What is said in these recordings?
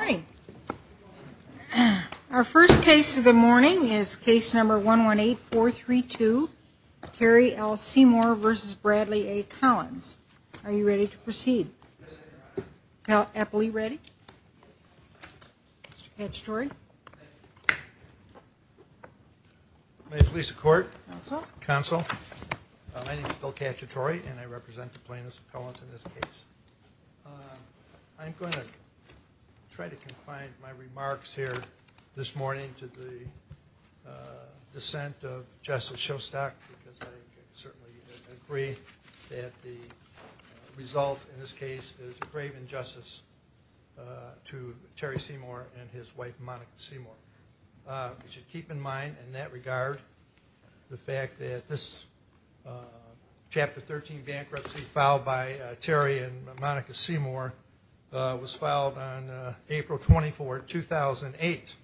Hi. Our first case of the morning is case number 118432, Kerry L. Seymour v. Bradley A. Collins. Are you ready to proceed? Appellee, ready? Mr. Cacciatore? May it please the Court. Counsel. Counsel. My name is Bill Cacciatore and I represent the plaintiffs' appellants in this case. I'm going to try to confine my remarks here this morning to the dissent of Justice Shostak because I certainly agree that the result in this case is a grave injustice to Terry Seymour and his wife Monica Seymour. You should keep in mind in that regard the fact that this case, Monica Seymour, was filed on April 24, 2008.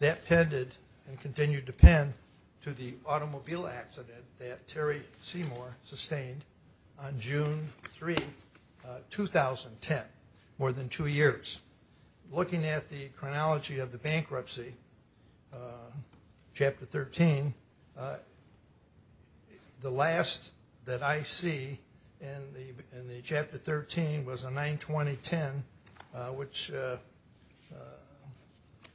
That pended and continued to pen to the automobile accident that Terry Seymour sustained on June 3, 2010, more than two years. Looking at the chronology of the bankruptcy, Chapter 13, the last that I see in the Chapter 13 was a 9-20-10, which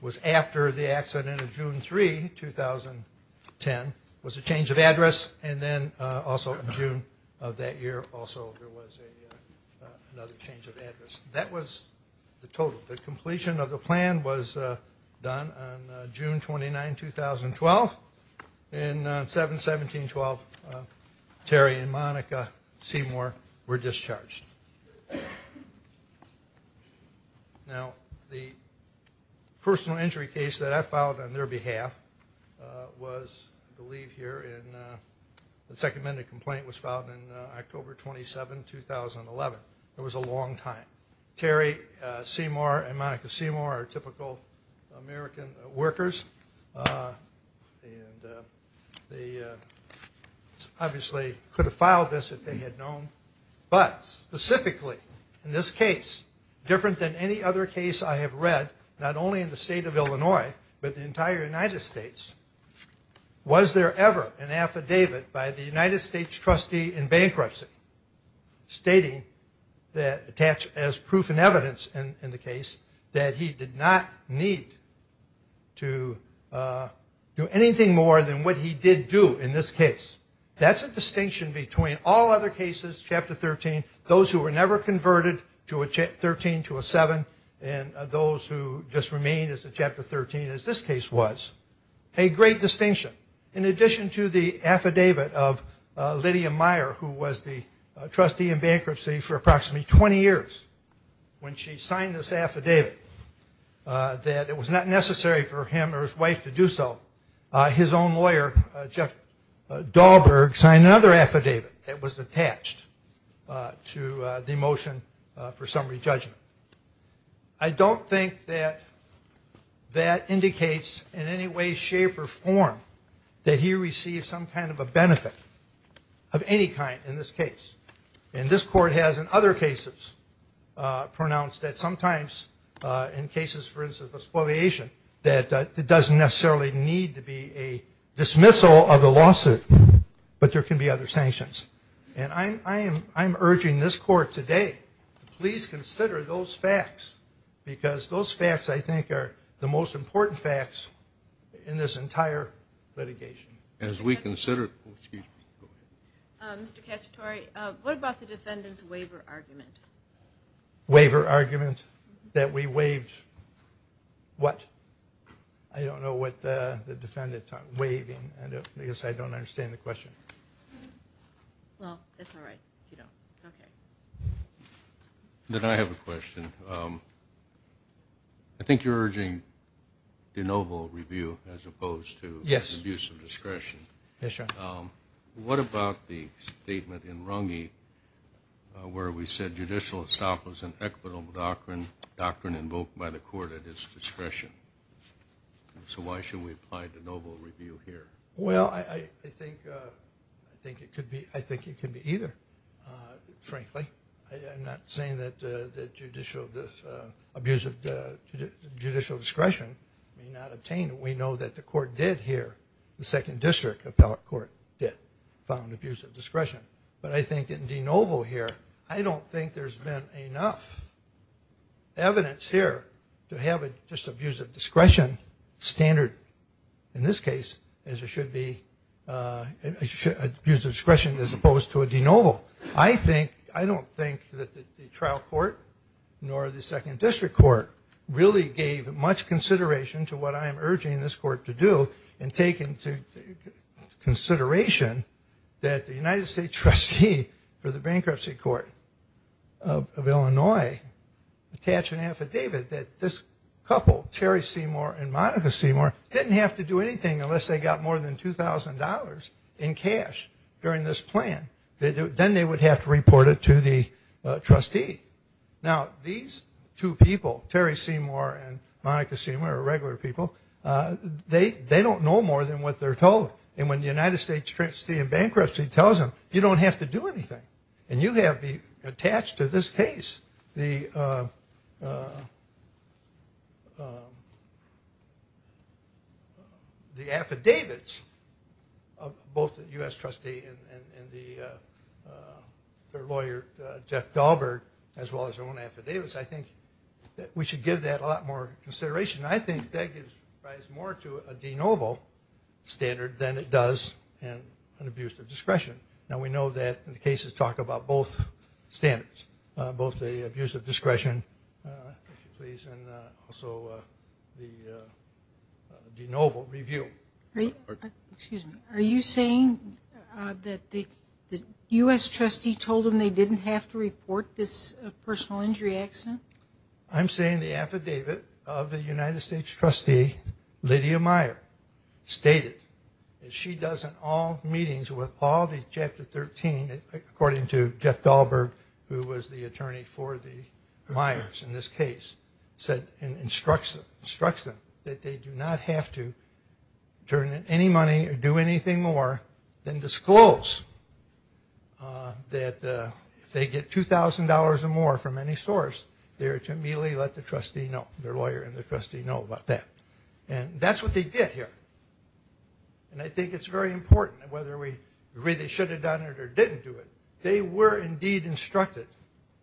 was after the accident of June 3, 2010. It was a change of address and then also in June of that year also there was another change of address. That was the total. The completion of the plan was done on June 29, 2012. And on 7-17-12, Terry and Monica Seymour were discharged. Now, the personal injury case that I filed on their behalf was, I believe here, the second amended complaint was filed on October 27, 2011. It was a long time. Terry Seymour and Monica Seymour are typical American workers. They obviously could have filed this if they had known. But specifically in this case, different than any other case I have read, not only in the state of Illinois but the entire United States, was there ever an affidavit by the United States trustee in bankruptcy stating that attached as proof and evidence in the case that he did not need to do anything more than what he did do in this case. That's a distinction between all other cases, Chapter 13, those who were never converted to a Chapter 13, to a 7, and those who just remained as a Chapter 13 as this case was. A great distinction. In addition to the affidavit of Lydia Meyer, who was the trustee in bankruptcy for approximately 20 years, when she signed this affidavit that it was not necessary for him or his wife to do so, his own lawyer, Jeff Dahlberg, signed another affidavit that was attached to the motion for summary judgment. I don't think that that indicates in any way, shape, or form that he received some kind of a benefit of any kind in this case. And this court has in other cases pronounced that sometimes in cases, for instance, of a spoliation, that it doesn't necessarily need to be a dismissal of the lawsuit, but there can be other sanctions. And I'm urging this court today to please consider those facts because those facts, I think, are the most important facts in this entire litigation. As we consider... Mr. Cacciatore, what about the defendant's waiver argument? Waiver argument? That we waived what? I don't know what the defendant's waiving. I guess I don't understand the question. Well, that's all right if you don't. Okay. Then I have a question. I think you're urging de novo review as opposed to... Yes. ...abuse of discretion. Yes, Your Honor. What about the statement in Runge where we said, judicial estoppel is an equitable doctrine invoked by the court at its discretion? So why should we apply de novo review here? Well, I think it could be either, frankly. I'm not saying that judicial discretion may not obtain it. We know that the court did here, the Second District Appellate Court did, found abuse of discretion. But I think in de novo here, I don't think there's been enough evidence here to have just abuse of discretion standard, in this case, as it should be abuse of discretion as opposed to a de novo. I think, I don't think that the trial court nor the Second District Court really gave much consideration to what I am urging this court to do and take into consideration that the United States Trustee for the Bankruptcy Court of Illinois attached an affidavit that this couple, Terry Seymour and Monica Seymour, didn't have to do anything unless they got more than $2,000 in cash during this plan. Then they would have to report it to the trustee. Now, these two people, Terry Seymour and Monica Seymour, are regular people. They don't know more than what they're told. And when the United States trustee in bankruptcy tells them, you don't have to do anything. And you have attached to this case the affidavits of both the U.S. trustee and their lawyer, Jeff Dahlberg, as well as their own affidavits. I think that we should give that a lot more consideration. I think that gives rise more to a de novo standard than it does an abuse of discretion. Now, we know that the cases talk about both standards, both the abuse of discretion, and also the de novo review. Are you saying that the U.S. trustee told them they didn't have to report this personal injury accident? I'm saying the affidavit of the United States trustee, Lydia Meyer, stated, as she does in all meetings with all the Chapter 13, according to Jeff Dahlberg, who was the attorney for the Myers in this case, said and instructs them that they do not have to turn in any money or do anything more than disclose that if they get $2,000 or more from any source, they are to immediately let the trustee know, their lawyer and the trustee know about that. And that's what they did here. And I think it's very important, whether we really should have done it or didn't do it, they were indeed instructed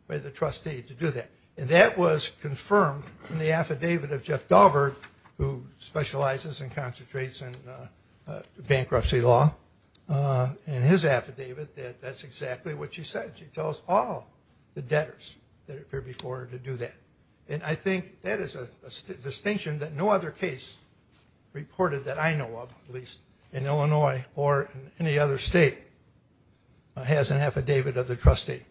by the trustee to do that. And that was confirmed in the affidavit of Jeff Dahlberg, who specializes and concentrates in bankruptcy law, in his affidavit, that that's exactly what she said. She tells all the debtors that appear before her to do that. And I think that is a distinction that no other case reported that I know of, at least in Illinois or any other state, has an affidavit of the trustee.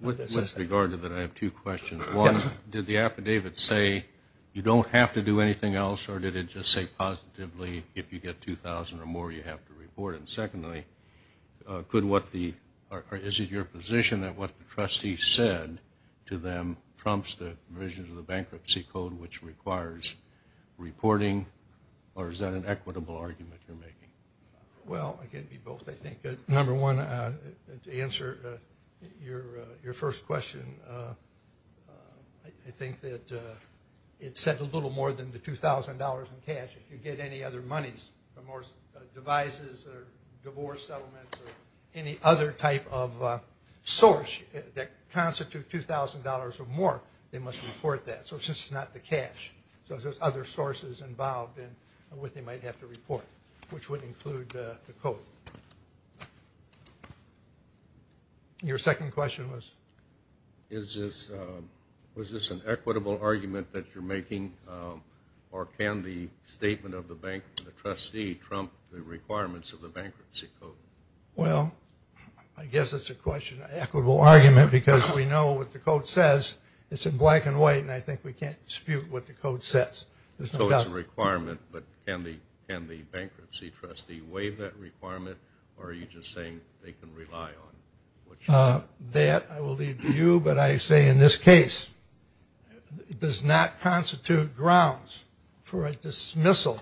With regard to that, I have two questions. One, did the affidavit say you don't have to do anything else, or did it just say positively if you get $2,000 or more, you have to report it? And secondly, is it your position that what the trustee said to them prompts the provisions of the bankruptcy code, which requires reporting, or is that an equitable argument you're making? Well, it can be both, I think. Number one, to answer your first question, I think that it said a little more than the $2,000 in cash. If you get any other monies, more devices or divorce settlements or any other type of source that constitute $2,000 or more, they must report that. So it's just not the cash. So there's other sources involved in what they might have to report, which would include the code. Your second question was? Was this an equitable argument that you're making, or can the statement of the trustee trump the requirements of the bankruptcy code? Well, I guess it's an equitable argument because we know what the code says. It's in black and white, and I think we can't dispute what the code says. So it's a requirement, but can the bankruptcy trustee waive that requirement, or are you just saying they can rely on it? That I will leave to you, but I say in this case, it does not constitute grounds for a dismissal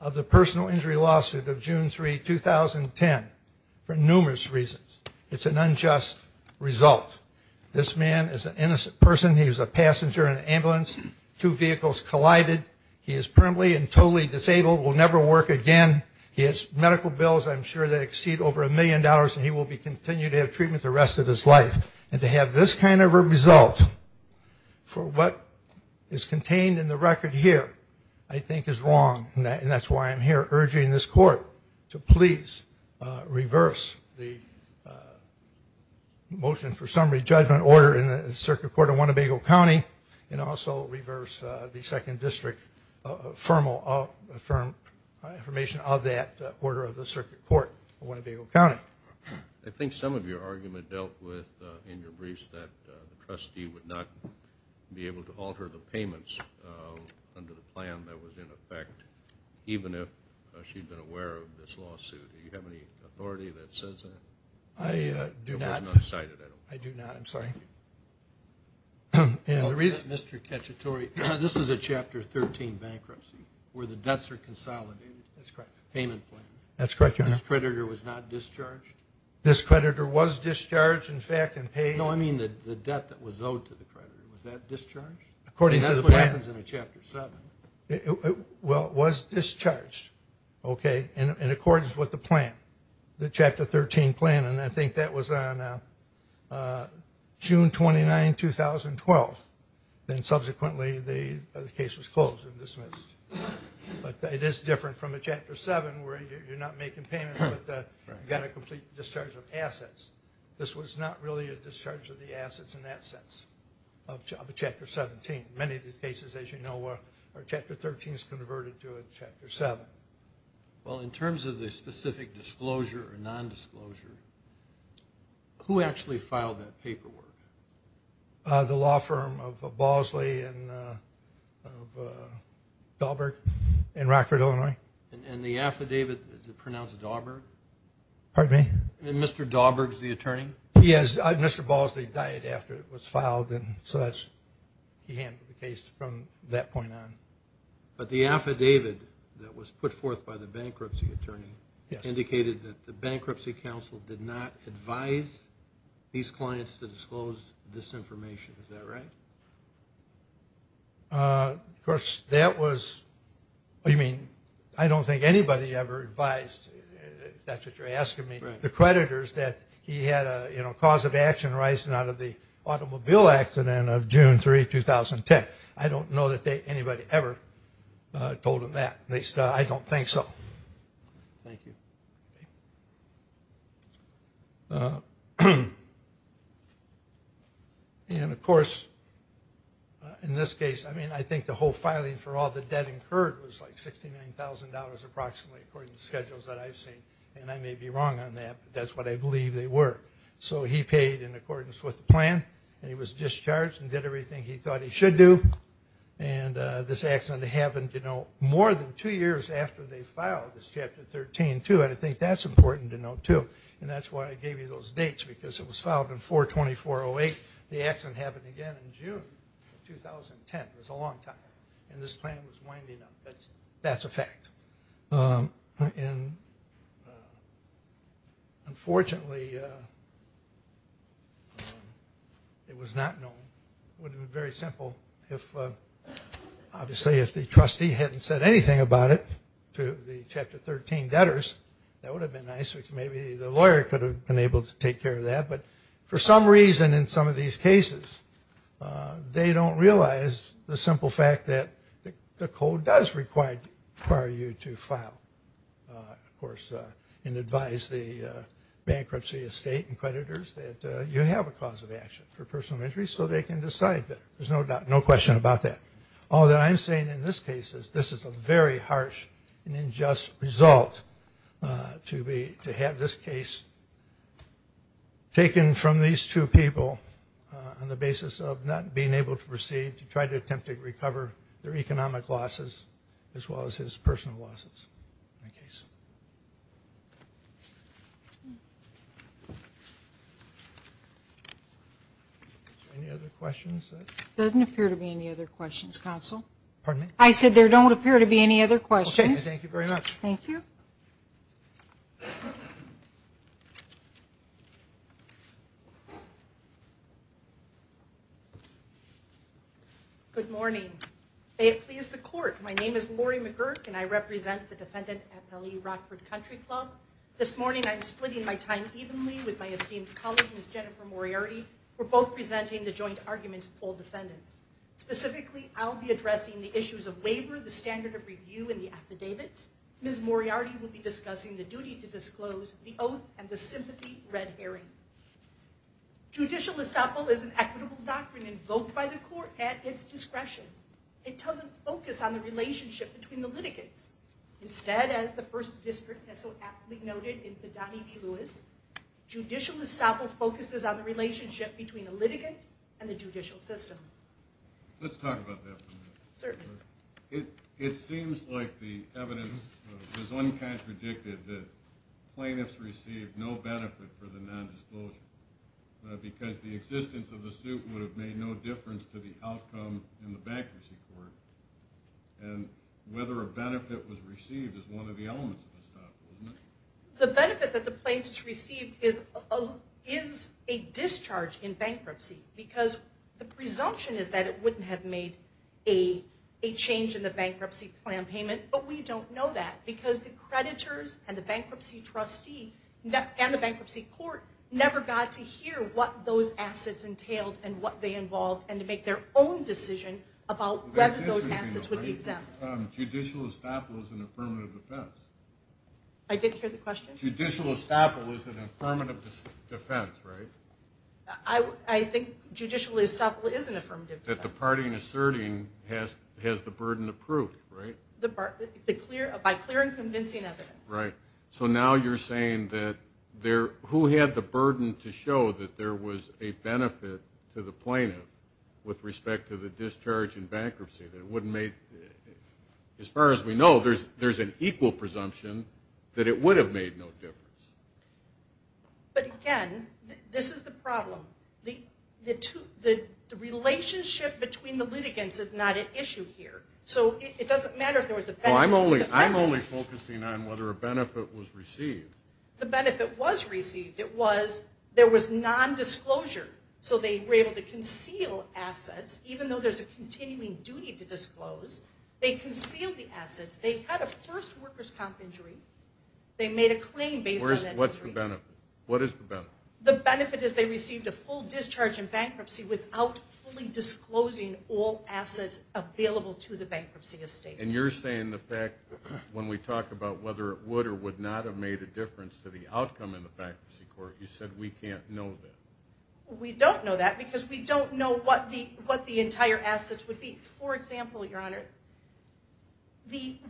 of the personal injury lawsuit of June 3, 2010, for numerous reasons. It's an unjust result. This man is an innocent person. He was a passenger in an ambulance. Two vehicles collided. He is primly and totally disabled, will never work again. He has medical bills I'm sure that exceed over a million dollars, and he will continue to have treatment the rest of his life. And to have this kind of a result for what is contained in the record here I think is wrong, and that's why I'm here urging this court to please reverse the motion for summary judgment order in the Circuit Court of Winnebago County and also reverse the second district formal affirmation of that order of the Circuit Court of Winnebago County. I think some of your argument dealt with in your briefs that the trustee would not be able to alter the payments under the plan that was in effect, even if she had been aware of this lawsuit. Do you have any authority that says that? I do not. It was not cited, I don't believe. I do not, I'm sorry. Mr. Cacciatore, this is a Chapter 13 bankruptcy where the debts are consolidated. That's correct. Payment plan. That's correct, Your Honor. This creditor was not discharged? This creditor was discharged, in fact, and paid. No, I mean the debt that was owed to the creditor. Was that discharged? According to the plan. That's what happens in a Chapter 7. Well, it was discharged, okay, in accordance with the plan, the Chapter 13 plan, and I think that was on June 29, 2012. Then subsequently the case was closed and dismissed. But it is different from a Chapter 7 where you're not making payments, but you've got a complete discharge of assets. This was not really a discharge of the assets in that sense of a Chapter 17. Many of these cases, as you know, are Chapter 13s converted to a Chapter 7. Well, in terms of the specific disclosure or nondisclosure, who actually filed that paperwork? The law firm of Balsley and Dauberg in Rockford, Illinois. And the affidavit, is it pronounced Dauberg? Pardon me? And Mr. Dauberg's the attorney? Yes, Mr. Balsley died after it was filed, and so he handled the case from that point on. But the affidavit that was put forth by the bankruptcy attorney indicated that the Bankruptcy Council did not advise these clients to disclose this information. Is that right? Of course, that was, I mean, I don't think anybody ever advised, if that's what you're asking me, the creditors, that he had a cause of action arising out of the automobile accident of June 3, 2010. I don't know that anybody ever told him that. I don't think so. Thank you. And, of course, in this case, I mean, I think the whole filing for all the debt incurred was like $69,000 approximately, according to schedules that I've seen. And I may be wrong on that, but that's what I believe they were. So he paid in accordance with the plan, and he was discharged and did everything he thought he should do. And this accident happened, you know, more than two years after they filed this Chapter 13, too, and I think that's important to note, too. And that's why I gave you those dates, because it was filed in 4-2408. The accident happened again in June of 2010. It was a long time. And this plan was winding up. That's a fact. And, unfortunately, it was not known. It would have been very simple if, obviously, if the trustee hadn't said anything about it to the Chapter 13 debtors. That would have been nice. Maybe the lawyer could have been able to take care of that. But for some reason in some of these cases, they don't realize the simple fact that the code does require you to file, of course, and advise the bankruptcy estate and creditors that you have a cause of action for personal injury so they can decide better. There's no question about that. All that I'm saying in this case is this is a very harsh and unjust result to have this case taken from these two people on the basis of not being able to proceed to try to attempt to recover their economic losses as well as his personal losses in the case. Any other questions? There doesn't appear to be any other questions, Counsel. Pardon me? I said there don't appear to be any other questions. Okay. Thank you very much. Thank you. Good morning. May it please the Court, my name is Lori McGurk, and I represent the defendant at L.E. Rockford Country Club. This morning I'm splitting my time evenly with my esteemed colleague, Ms. Jennifer Moriarty. We're both presenting the joint arguments of both defendants. Specifically, I'll be addressing the issues of waiver, the standard of review, and the affidavits. Ms. Moriarty will be discussing the duty to disclose, the oath, and the sympathy red herring. Judicial estoppel is an equitable doctrine invoked by the Court at its discretion. It doesn't focus on the relationship between the litigants. Instead, as the First District has so aptly noted in Fidani v. Lewis, judicial estoppel focuses on the relationship between the litigant and the judicial system. Let's talk about that for a minute. Certainly. It seems like the evidence is uncontradicted that plaintiffs received no benefit for the nondisclosure because the existence of the suit would have made no difference to the outcome in the bankruptcy court. And whether a benefit was received is one of the elements of estoppel, isn't it? The benefit that the plaintiffs received is a discharge in bankruptcy because the presumption is that it wouldn't have made a change in the bankruptcy plan payment, but we don't know that because the creditors and the bankruptcy trustee and the bankruptcy court never got to hear what those assets entailed and what they involved and to make their own decision about whether those assets would be exempt. Judicial estoppel is an affirmative defense. I didn't hear the question. Judicial estoppel is an affirmative defense, right? I think judicial estoppel is an affirmative defense. That the party in asserting has the burden approved, right? By clear and convincing evidence. So now you're saying that who had the burden to show that there was a benefit to the plaintiff with respect to the discharge in bankruptcy? As far as we know, there's an equal presumption that it would have made no difference. But again, this is the problem. The relationship between the litigants is not at issue here. So it doesn't matter if there was a benefit to the plaintiffs. I'm only focusing on whether a benefit was received. The benefit was received. There was nondisclosure, so they were able to conceal assets even though there's a continuing duty to disclose. They concealed the assets. They had a first worker's comp injury. They made a claim based on that injury. What's the benefit? What is the benefit? The benefit is they received a full discharge in bankruptcy without fully disclosing all assets available to the bankruptcy estate. And you're saying the fact when we talk about whether it would or would not have made a difference to the outcome in the bankruptcy court, you said we can't know that. We don't know that because we don't know what the entire assets would be. For example, Your Honor,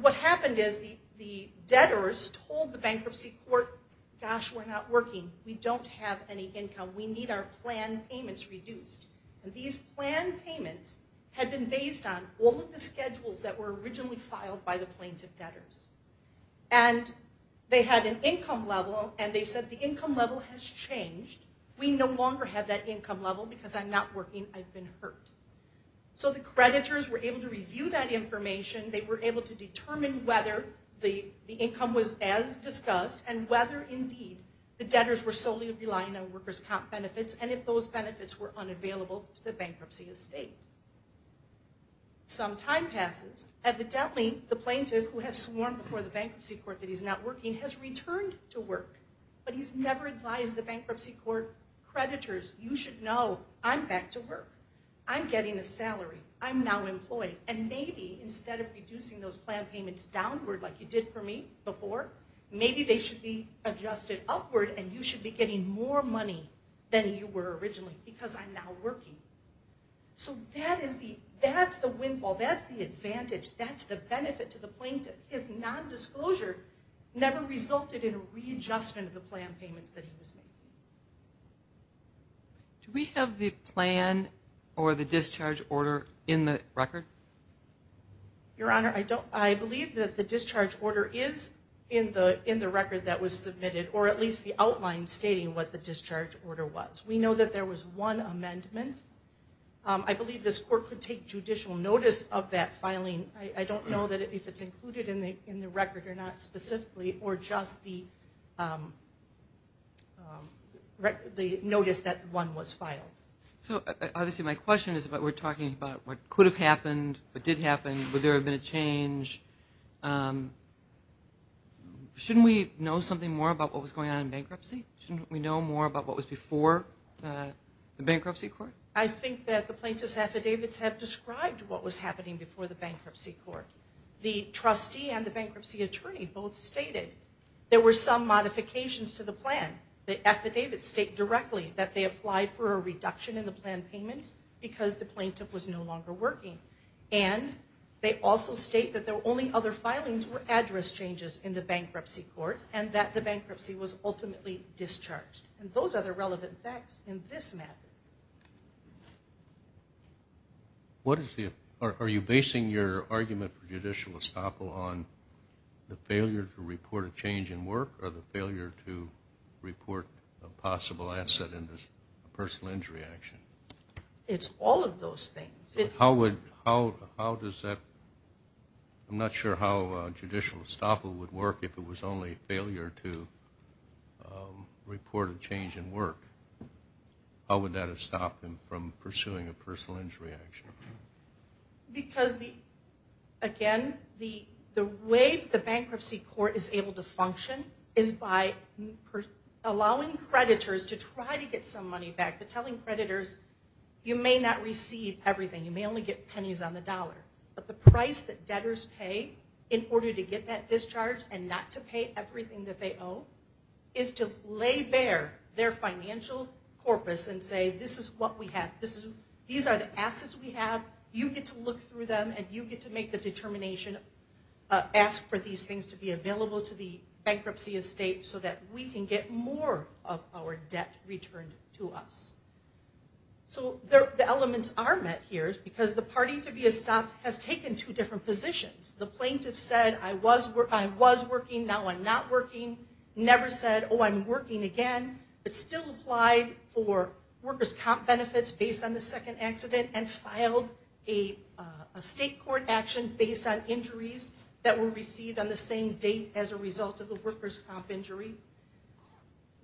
what happened is the debtors told the bankruptcy court, gosh, we're not working. We don't have any income. We need our planned payments reduced. And these planned payments had been based on all of the schedules that were originally filed by the plaintiff debtors. And they had an income level, and they said the income level has changed. We no longer have that income level because I'm not working. I've been hurt. So the creditors were able to review that information. They were able to determine whether the income was as discussed and whether, indeed, the debtors were solely relying on worker's comp benefits and if those benefits were unavailable to the bankruptcy estate. Some time passes. Evidently, the plaintiff who has sworn before the bankruptcy court that he's not working has returned to work, but he's never advised the bankruptcy court creditors, you should know I'm back to work. I'm getting a salary. I'm now employed. And maybe instead of reducing those planned payments downward like you did for me before, maybe they should be adjusted upward, and you should be getting more money than you were originally because I'm now working. So that's the windfall. That's the advantage. That's the benefit to the plaintiff. His nondisclosure never resulted in a readjustment of the planned payments that he was making. Do we have the plan or the discharge order in the record? Your Honor, I believe that the discharge order is in the record that was submitted or at least the outline stating what the discharge order was. We know that there was one amendment. I believe this court could take judicial notice of that filing. I don't know if it's included in the record or not specifically or just the notice that one was filed. So obviously my question is we're talking about what could have happened, what did happen, would there have been a change. Shouldn't we know something more about what was going on in bankruptcy? Shouldn't we know more about what was before the bankruptcy court? I think that the plaintiff's affidavits have described what was happening before the bankruptcy court. The trustee and the bankruptcy attorney both stated there were some modifications to the plan. The affidavits state directly that they applied for a reduction in the planned payments because the plaintiff was no longer working. And they also state that there were only other filings or address changes in the bankruptcy court and that the bankruptcy was ultimately discharged. And those are the relevant facts in this matter. What is the – are you basing your argument for judicial estoppel on the failure to report a change in work or the failure to report a possible asset in this personal injury action? It's all of those things. How would – how does that – I'm not sure how judicial estoppel would work if it was only failure to report a change in work. How would that have stopped him from pursuing a personal injury action? Because, again, the way the bankruptcy court is able to function is by allowing creditors to try to get some money back, but telling creditors you may not receive everything, you may only get pennies on the dollar. But the price that debtors pay in order to get that discharge and not to pay everything that they owe is to lay bare their financial corpus and say, this is what we have. These are the assets we have. You get to look through them and you get to make the determination, ask for these things to be available to the bankruptcy estate so that we can get more of our debt returned to us. So the elements are met here because the party to be estopped has taken two different positions. The plaintiff said, I was working, now I'm not working, never said, oh, I'm working again, but still applied for workers' comp benefits based on the second accident and filed a state court action based on injuries that were received on the same date as a result of the workers' comp injury.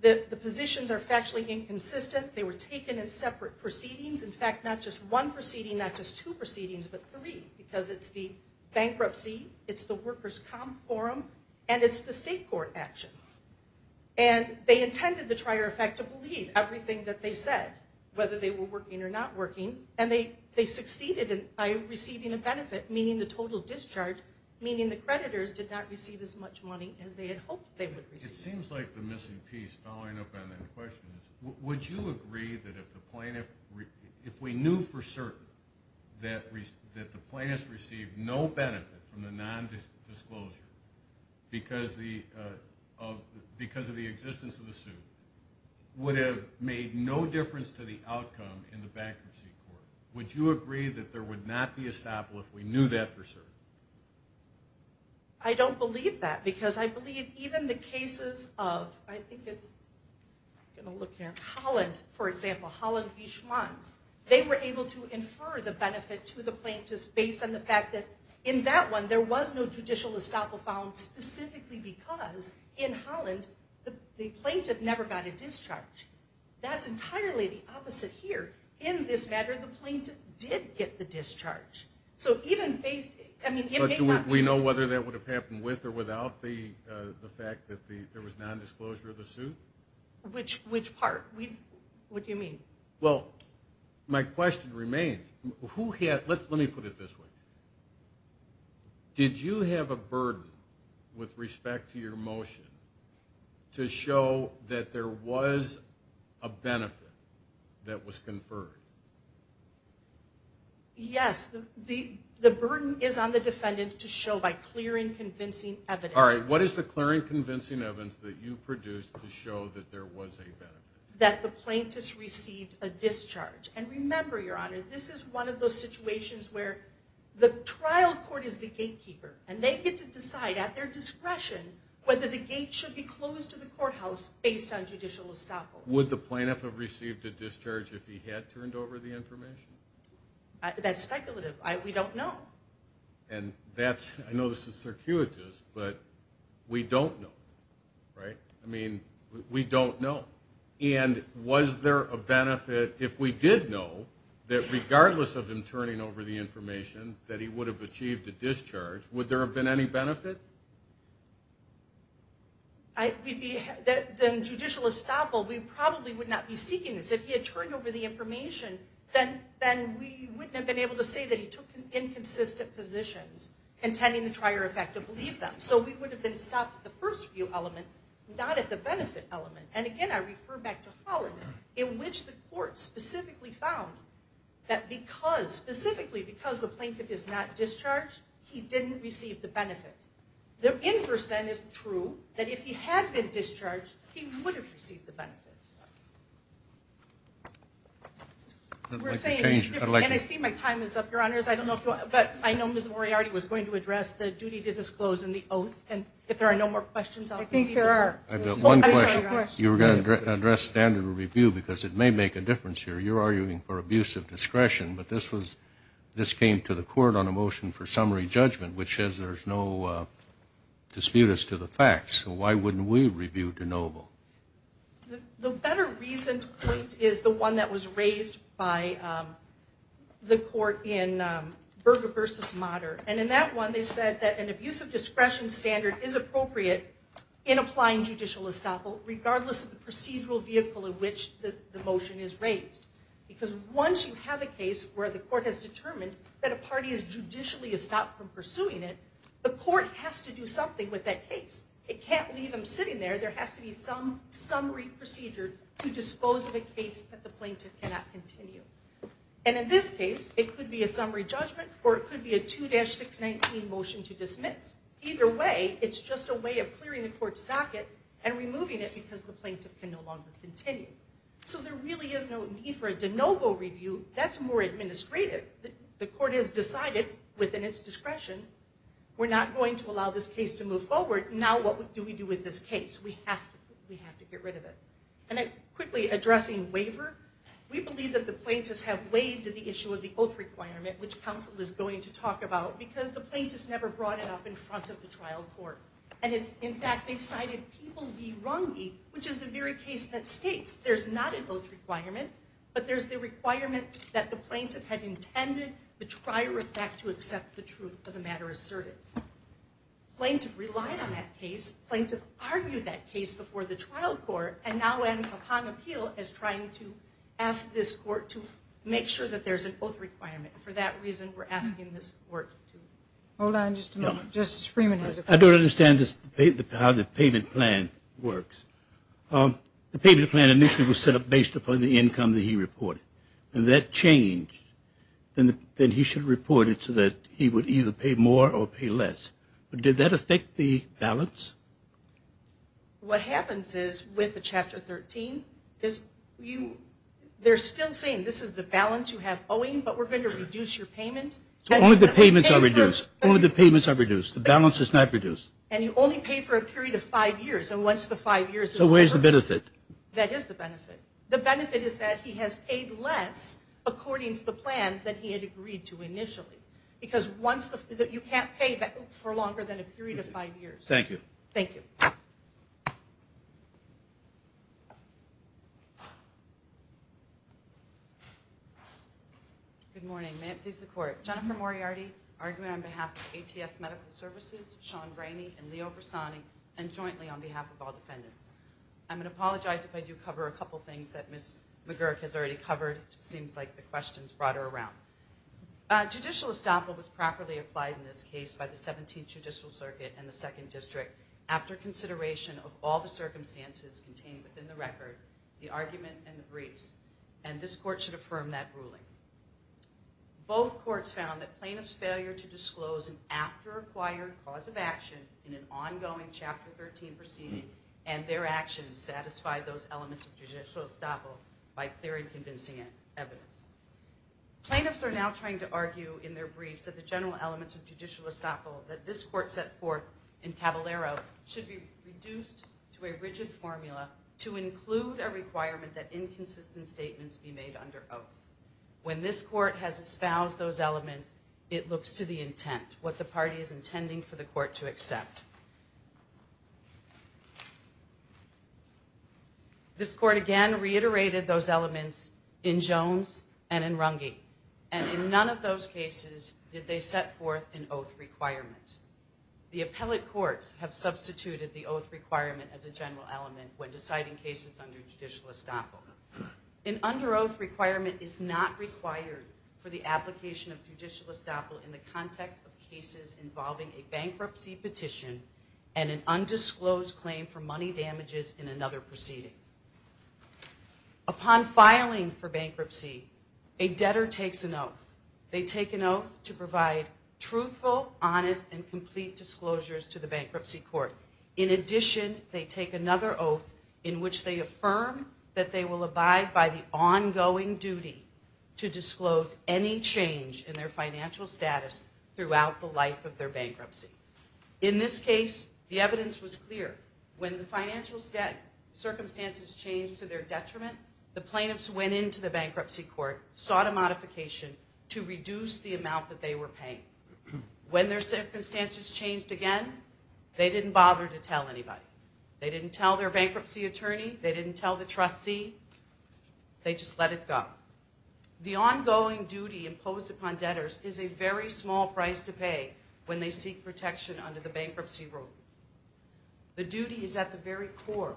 The positions are factually inconsistent. They were taken in separate proceedings. In fact, not just one proceeding, not just two proceedings, but three, because it's the bankruptcy, it's the workers' comp forum, and it's the state court action. And they intended the trier effect to believe everything that they said, whether they were working or not working, and they succeeded by receiving a benefit, meaning the total discharge, meaning the creditors did not receive as much money as they had hoped they would receive. It seems like the missing piece following up on that question is, would you agree that if the plaintiff, if we knew for certain that the plaintiff received no benefit from the nondisclosure because of the existence of the suit, would it have made no difference to the outcome in the bankruptcy court? Would you agree that there would not be a stop if we knew that for certain? I don't believe that, because I believe even the cases of, I think it's, I'm going to look here, Holland, for example, Holland v. Schmanz, they were able to infer the benefit to the plaintiffs based on the fact that in that one there was no judicial estoppel found specifically because in Holland the plaintiff never got a discharge. That's entirely the opposite here. In this matter, the plaintiff did get the discharge. So even based, I mean, it may not be. But do we know whether that would have happened with or without the fact that there was nondisclosure of the suit? Which part? What do you mean? Well, my question remains, who had, let me put it this way. Did you have a burden with respect to your motion to show that there was a benefit that was conferred? Yes. The burden is on the defendant to show by clearing convincing evidence. All right. What is the clearing convincing evidence that you produced to show that there was a benefit? That the plaintiffs received a discharge. And remember, Your Honor, this is one of those situations where the trial court is the gatekeeper, and they get to decide at their discretion whether the gate should be closed to the courthouse based on judicial estoppel. Would the plaintiff have received a discharge if he had turned over the information? That's speculative. We don't know. And that's, I know this is circuitous, but we don't know. Right? I mean, we don't know. And was there a benefit if we did know that regardless of him turning over the information that he would have achieved a discharge, would there have been any benefit? Then judicial estoppel, we probably would not be seeking this. If he had turned over the information, then we wouldn't have been able to say that he took inconsistent positions contending the prior effect to believe them. So we would have been stopped at the first few elements, not at the benefit element. And, again, I refer back to Holland, in which the court specifically found that because, specifically because the plaintiff is not discharged, he didn't receive the benefit. The inverse, then, is true, that if he had been discharged, he would have received the benefit. I'd like to change. And I see my time is up, Your Honors. But I know Ms. Moriarty was going to address the duty to disclose in the oath. And if there are no more questions, I'll proceed. I think there are. I have one question. You were going to address standard review because it may make a difference here. You're arguing for abuse of discretion. But this came to the court on a motion for summary judgment, which says there's no dispute as to the facts. So why wouldn't we review de novo? The better reason to point is the one that was raised by the court in Berger v. Motter. And in that one, they said that an abuse of discretion standard is appropriate in applying judicial estoppel, regardless of the procedural vehicle in which the motion is raised. Because once you have a case where the court has determined that a party is judicially estopped from pursuing it, the court has to do something with that case. It can't leave them sitting there. There has to be some summary procedure to dispose of a case that the plaintiff cannot continue. And in this case, it could be a summary judgment or it could be a 2-619 motion to dismiss. Either way, it's just a way of clearing the court's docket and removing it because the plaintiff can no longer continue. So there really is no need for a de novo review. That's more administrative. The court has decided within its discretion we're not going to allow this case to move forward. Now what do we do with this case? We have to get rid of it. And quickly, addressing waiver, we believe that the plaintiffs have waived the issue of the oath requirement, which counsel is going to talk about, because the plaintiffs never brought it up in front of the trial court. In fact, they cited people v. Runge, which is the very case that states there's not an oath requirement, but there's the requirement that the plaintiff had intended the trier of fact to accept the truth of the matter asserted. The plaintiff relied on that case. The plaintiff argued that case before the trial court and now, upon appeal, is trying to ask this court to make sure that there's an oath requirement. For that reason, we're asking this court to. Hold on just a moment. Justice Freeman has a question. I don't understand how the payment plan works. The payment plan initially was set up based upon the income that he reported, and that changed. Then he should report it so that he would either pay more or pay less. Did that affect the balance? What happens is, with the Chapter 13, they're still saying this is the balance you have owing, but we're going to reduce your payments. So only the payments are reduced. Only the payments are reduced. The balance is not reduced. And you only pay for a period of five years. And once the five years is over. So where's the benefit? That is the benefit. The benefit is that he has paid less, according to the plan, than he had agreed to initially. Because you can't pay for longer than a period of five years. Thank you. Thank you. Good morning. May it please the Court. Jennifer Moriarty, argument on behalf of ATS Medical Services, Sean Brainy, and Leo Bersani, and jointly on behalf of all defendants. I'm going to apologize if I do cover a couple things that Ms. McGurk has already covered. It just seems like the questions brought her around. Judicial estoppel was properly applied in this case by the 17th Judicial Circuit and the 2nd District after consideration of all the circumstances contained within the record, the argument, and the briefs. And this Court should affirm that ruling. Both courts found that plaintiff's failure to disclose an after-acquired cause of action in an ongoing Chapter 13 proceeding and their actions satisfy those elements of judicial estoppel by clear and convincing evidence. Plaintiffs are now trying to argue in their briefs that the general elements of judicial estoppel that this Court set forth in Cavallaro should be reduced to a rigid formula to include a requirement that inconsistent statements be made under oath. When this Court has espoused those elements, it looks to the intent, This Court again reiterated those elements in Jones and in Runge. And in none of those cases did they set forth an oath requirement. The appellate courts have substituted the oath requirement as a general element when deciding cases under judicial estoppel. An under-oath requirement is not required for the application of judicial estoppel in the context of cases involving a bankruptcy petition and an undisclosed claim for money damages in another proceeding. Upon filing for bankruptcy, a debtor takes an oath. They take an oath to provide truthful, honest, and complete disclosures to the bankruptcy court. In addition, they take another oath in which they affirm that they will abide by the ongoing duty to disclose any change in their financial status throughout the life of their bankruptcy. In this case, the evidence was clear. When the financial circumstances changed to their detriment, the plaintiffs went into the bankruptcy court, sought a modification to reduce the amount that they were paying. When their circumstances changed again, they didn't bother to tell anybody. They didn't tell their bankruptcy attorney. They didn't tell the trustee. They just let it go. The ongoing duty imposed upon debtors is a very small price to pay when they seek protection under the bankruptcy rule. The duty is at the very core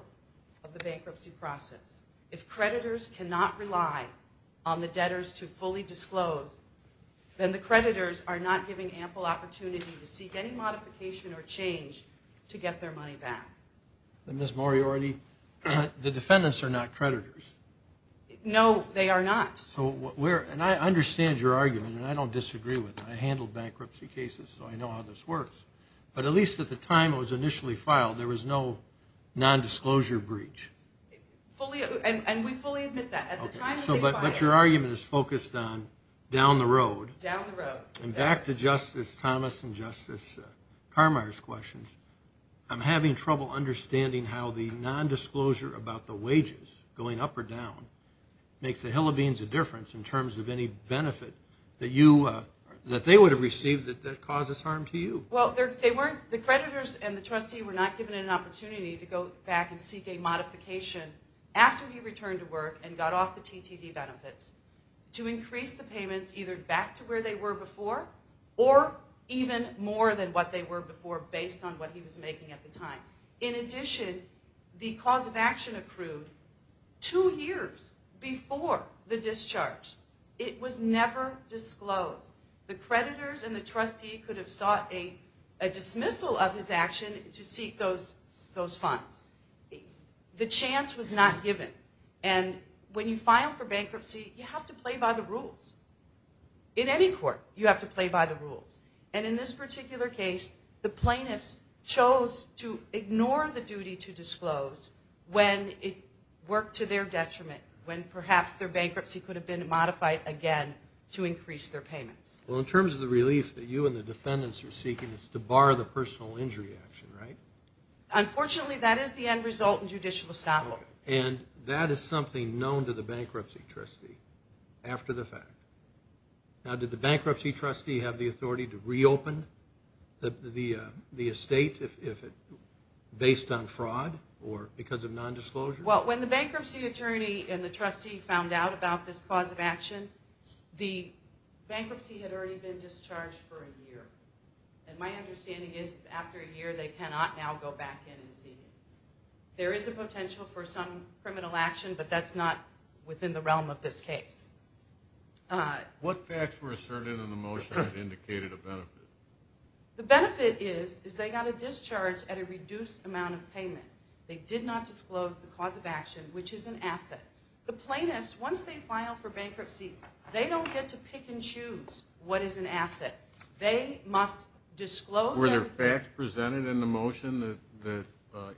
of the bankruptcy process. If creditors cannot rely on the debtors to fully disclose, then the creditors are not giving ample opportunity to seek any modification or change to get their money back. Ms. Moriarty, the defendants are not creditors. No, they are not. I understand your argument, and I don't disagree with it. I handled bankruptcy cases, so I know how this works. But at least at the time it was initially filed, there was no nondisclosure breach. And we fully admit that. But your argument is focused on down the road. Down the road. And back to Justice Thomas and Justice Carmeier's questions, I'm having trouble understanding how the nondisclosure about the wages going up or down makes a hill of beans of difference in terms of any benefit that they would have received that causes harm to you. Well, the creditors and the trustee were not given an opportunity to go back and seek a modification after he returned to work and got off the TTD benefits to increase the payments either back to where they were before or even more than what they were before based on what he was making at the time. In addition, the cause of action approved two years before the discharge. It was never disclosed. The creditors and the trustee could have sought a dismissal of his action to seek those funds. The chance was not given. And when you file for bankruptcy, you have to play by the rules. In any court, you have to play by the rules. And in this particular case, the plaintiffs chose to ignore the duty to disclose when it worked to their detriment, when perhaps their bankruptcy could have been modified again to increase their payments. Well, in terms of the relief that you and the defendants are seeking, it's to bar the personal injury action, right? Unfortunately, that is the end result in judicial estoppel. And that is something known to the bankruptcy trustee after the fact. Now, did the bankruptcy trustee have the authority to reopen the estate based on fraud or because of nondisclosure? Well, when the bankruptcy attorney and the trustee found out about this cause of action, the bankruptcy had already been discharged for a year. And my understanding is after a year, they cannot now go back in and see it. There is a potential for some criminal action, but that's not within the realm of this case. What facts were asserted in the motion that indicated a benefit? The benefit is they got a discharge at a reduced amount of payment. They did not disclose the cause of action, which is an asset. The plaintiffs, once they file for bankruptcy, they don't get to pick and choose what is an asset. They must disclose it. Were there facts presented in the motion that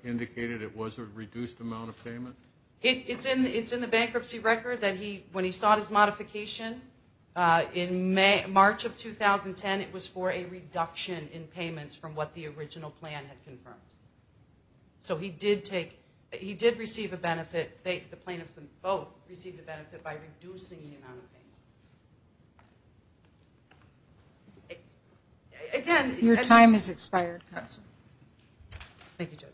indicated it was a reduced amount of payment? It's in the bankruptcy record that when he sought his modification in March of 2010, it was for a reduction in payments from what the original plan had confirmed. So he did receive a benefit. The plaintiffs both received a benefit by reducing the amount of payments. Your time has expired, counsel. Thank you, Judge. Thank you.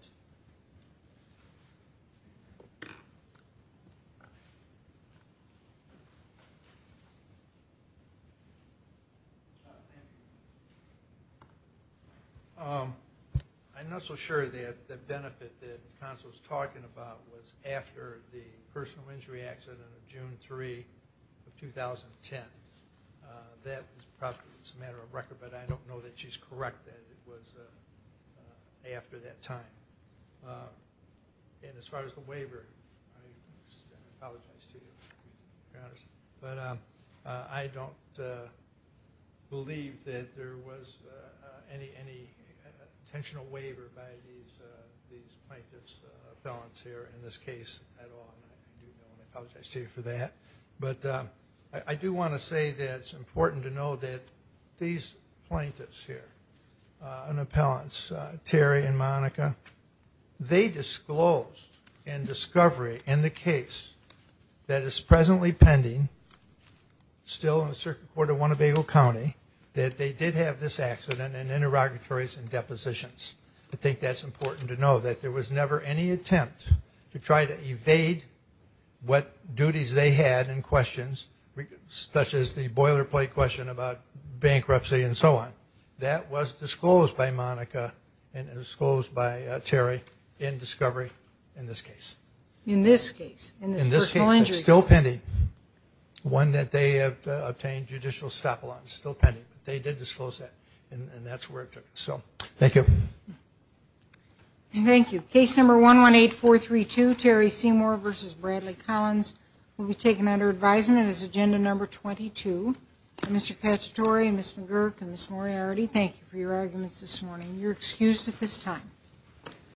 I'm not so sure that the benefit that counsel was talking about was after the personal injury accident of June 3, 2010. That is probably just a matter of record, but I don't know that she's correct that it was after that time. And as far as the waiver, I apologize to you, Your Honor, but I don't believe that there was any intentional waiver by these plaintiffs, appellants here in this case at all. I do apologize to you for that. But I do want to say that it's important to know that these plaintiffs here, and appellants, Terry and Monica, they disclosed in discovery in the case that is presently pending, still in the Circuit Court of Winnebago County, that they did have this accident in interrogatories and depositions. I think that's important to know, that there was never any attempt to try to evade what duties they had in questions such as the boilerplate question about bankruptcy and so on. That was disclosed by Monica and disclosed by Terry in discovery in this case. In this case, in this personal injury case. In this case, it's still pending, one that they have obtained judicial stop-a-long. It's still pending, but they did disclose that, and that's where it took it. So thank you. Thank you. Case number 118432, Terry Seymour v. Bradley Collins, will be taken under advisement as agenda number 22. Mr. Cacciatore and Ms. McGurk and Ms. Moriarty, thank you for your arguments this morning. You're excused at this time.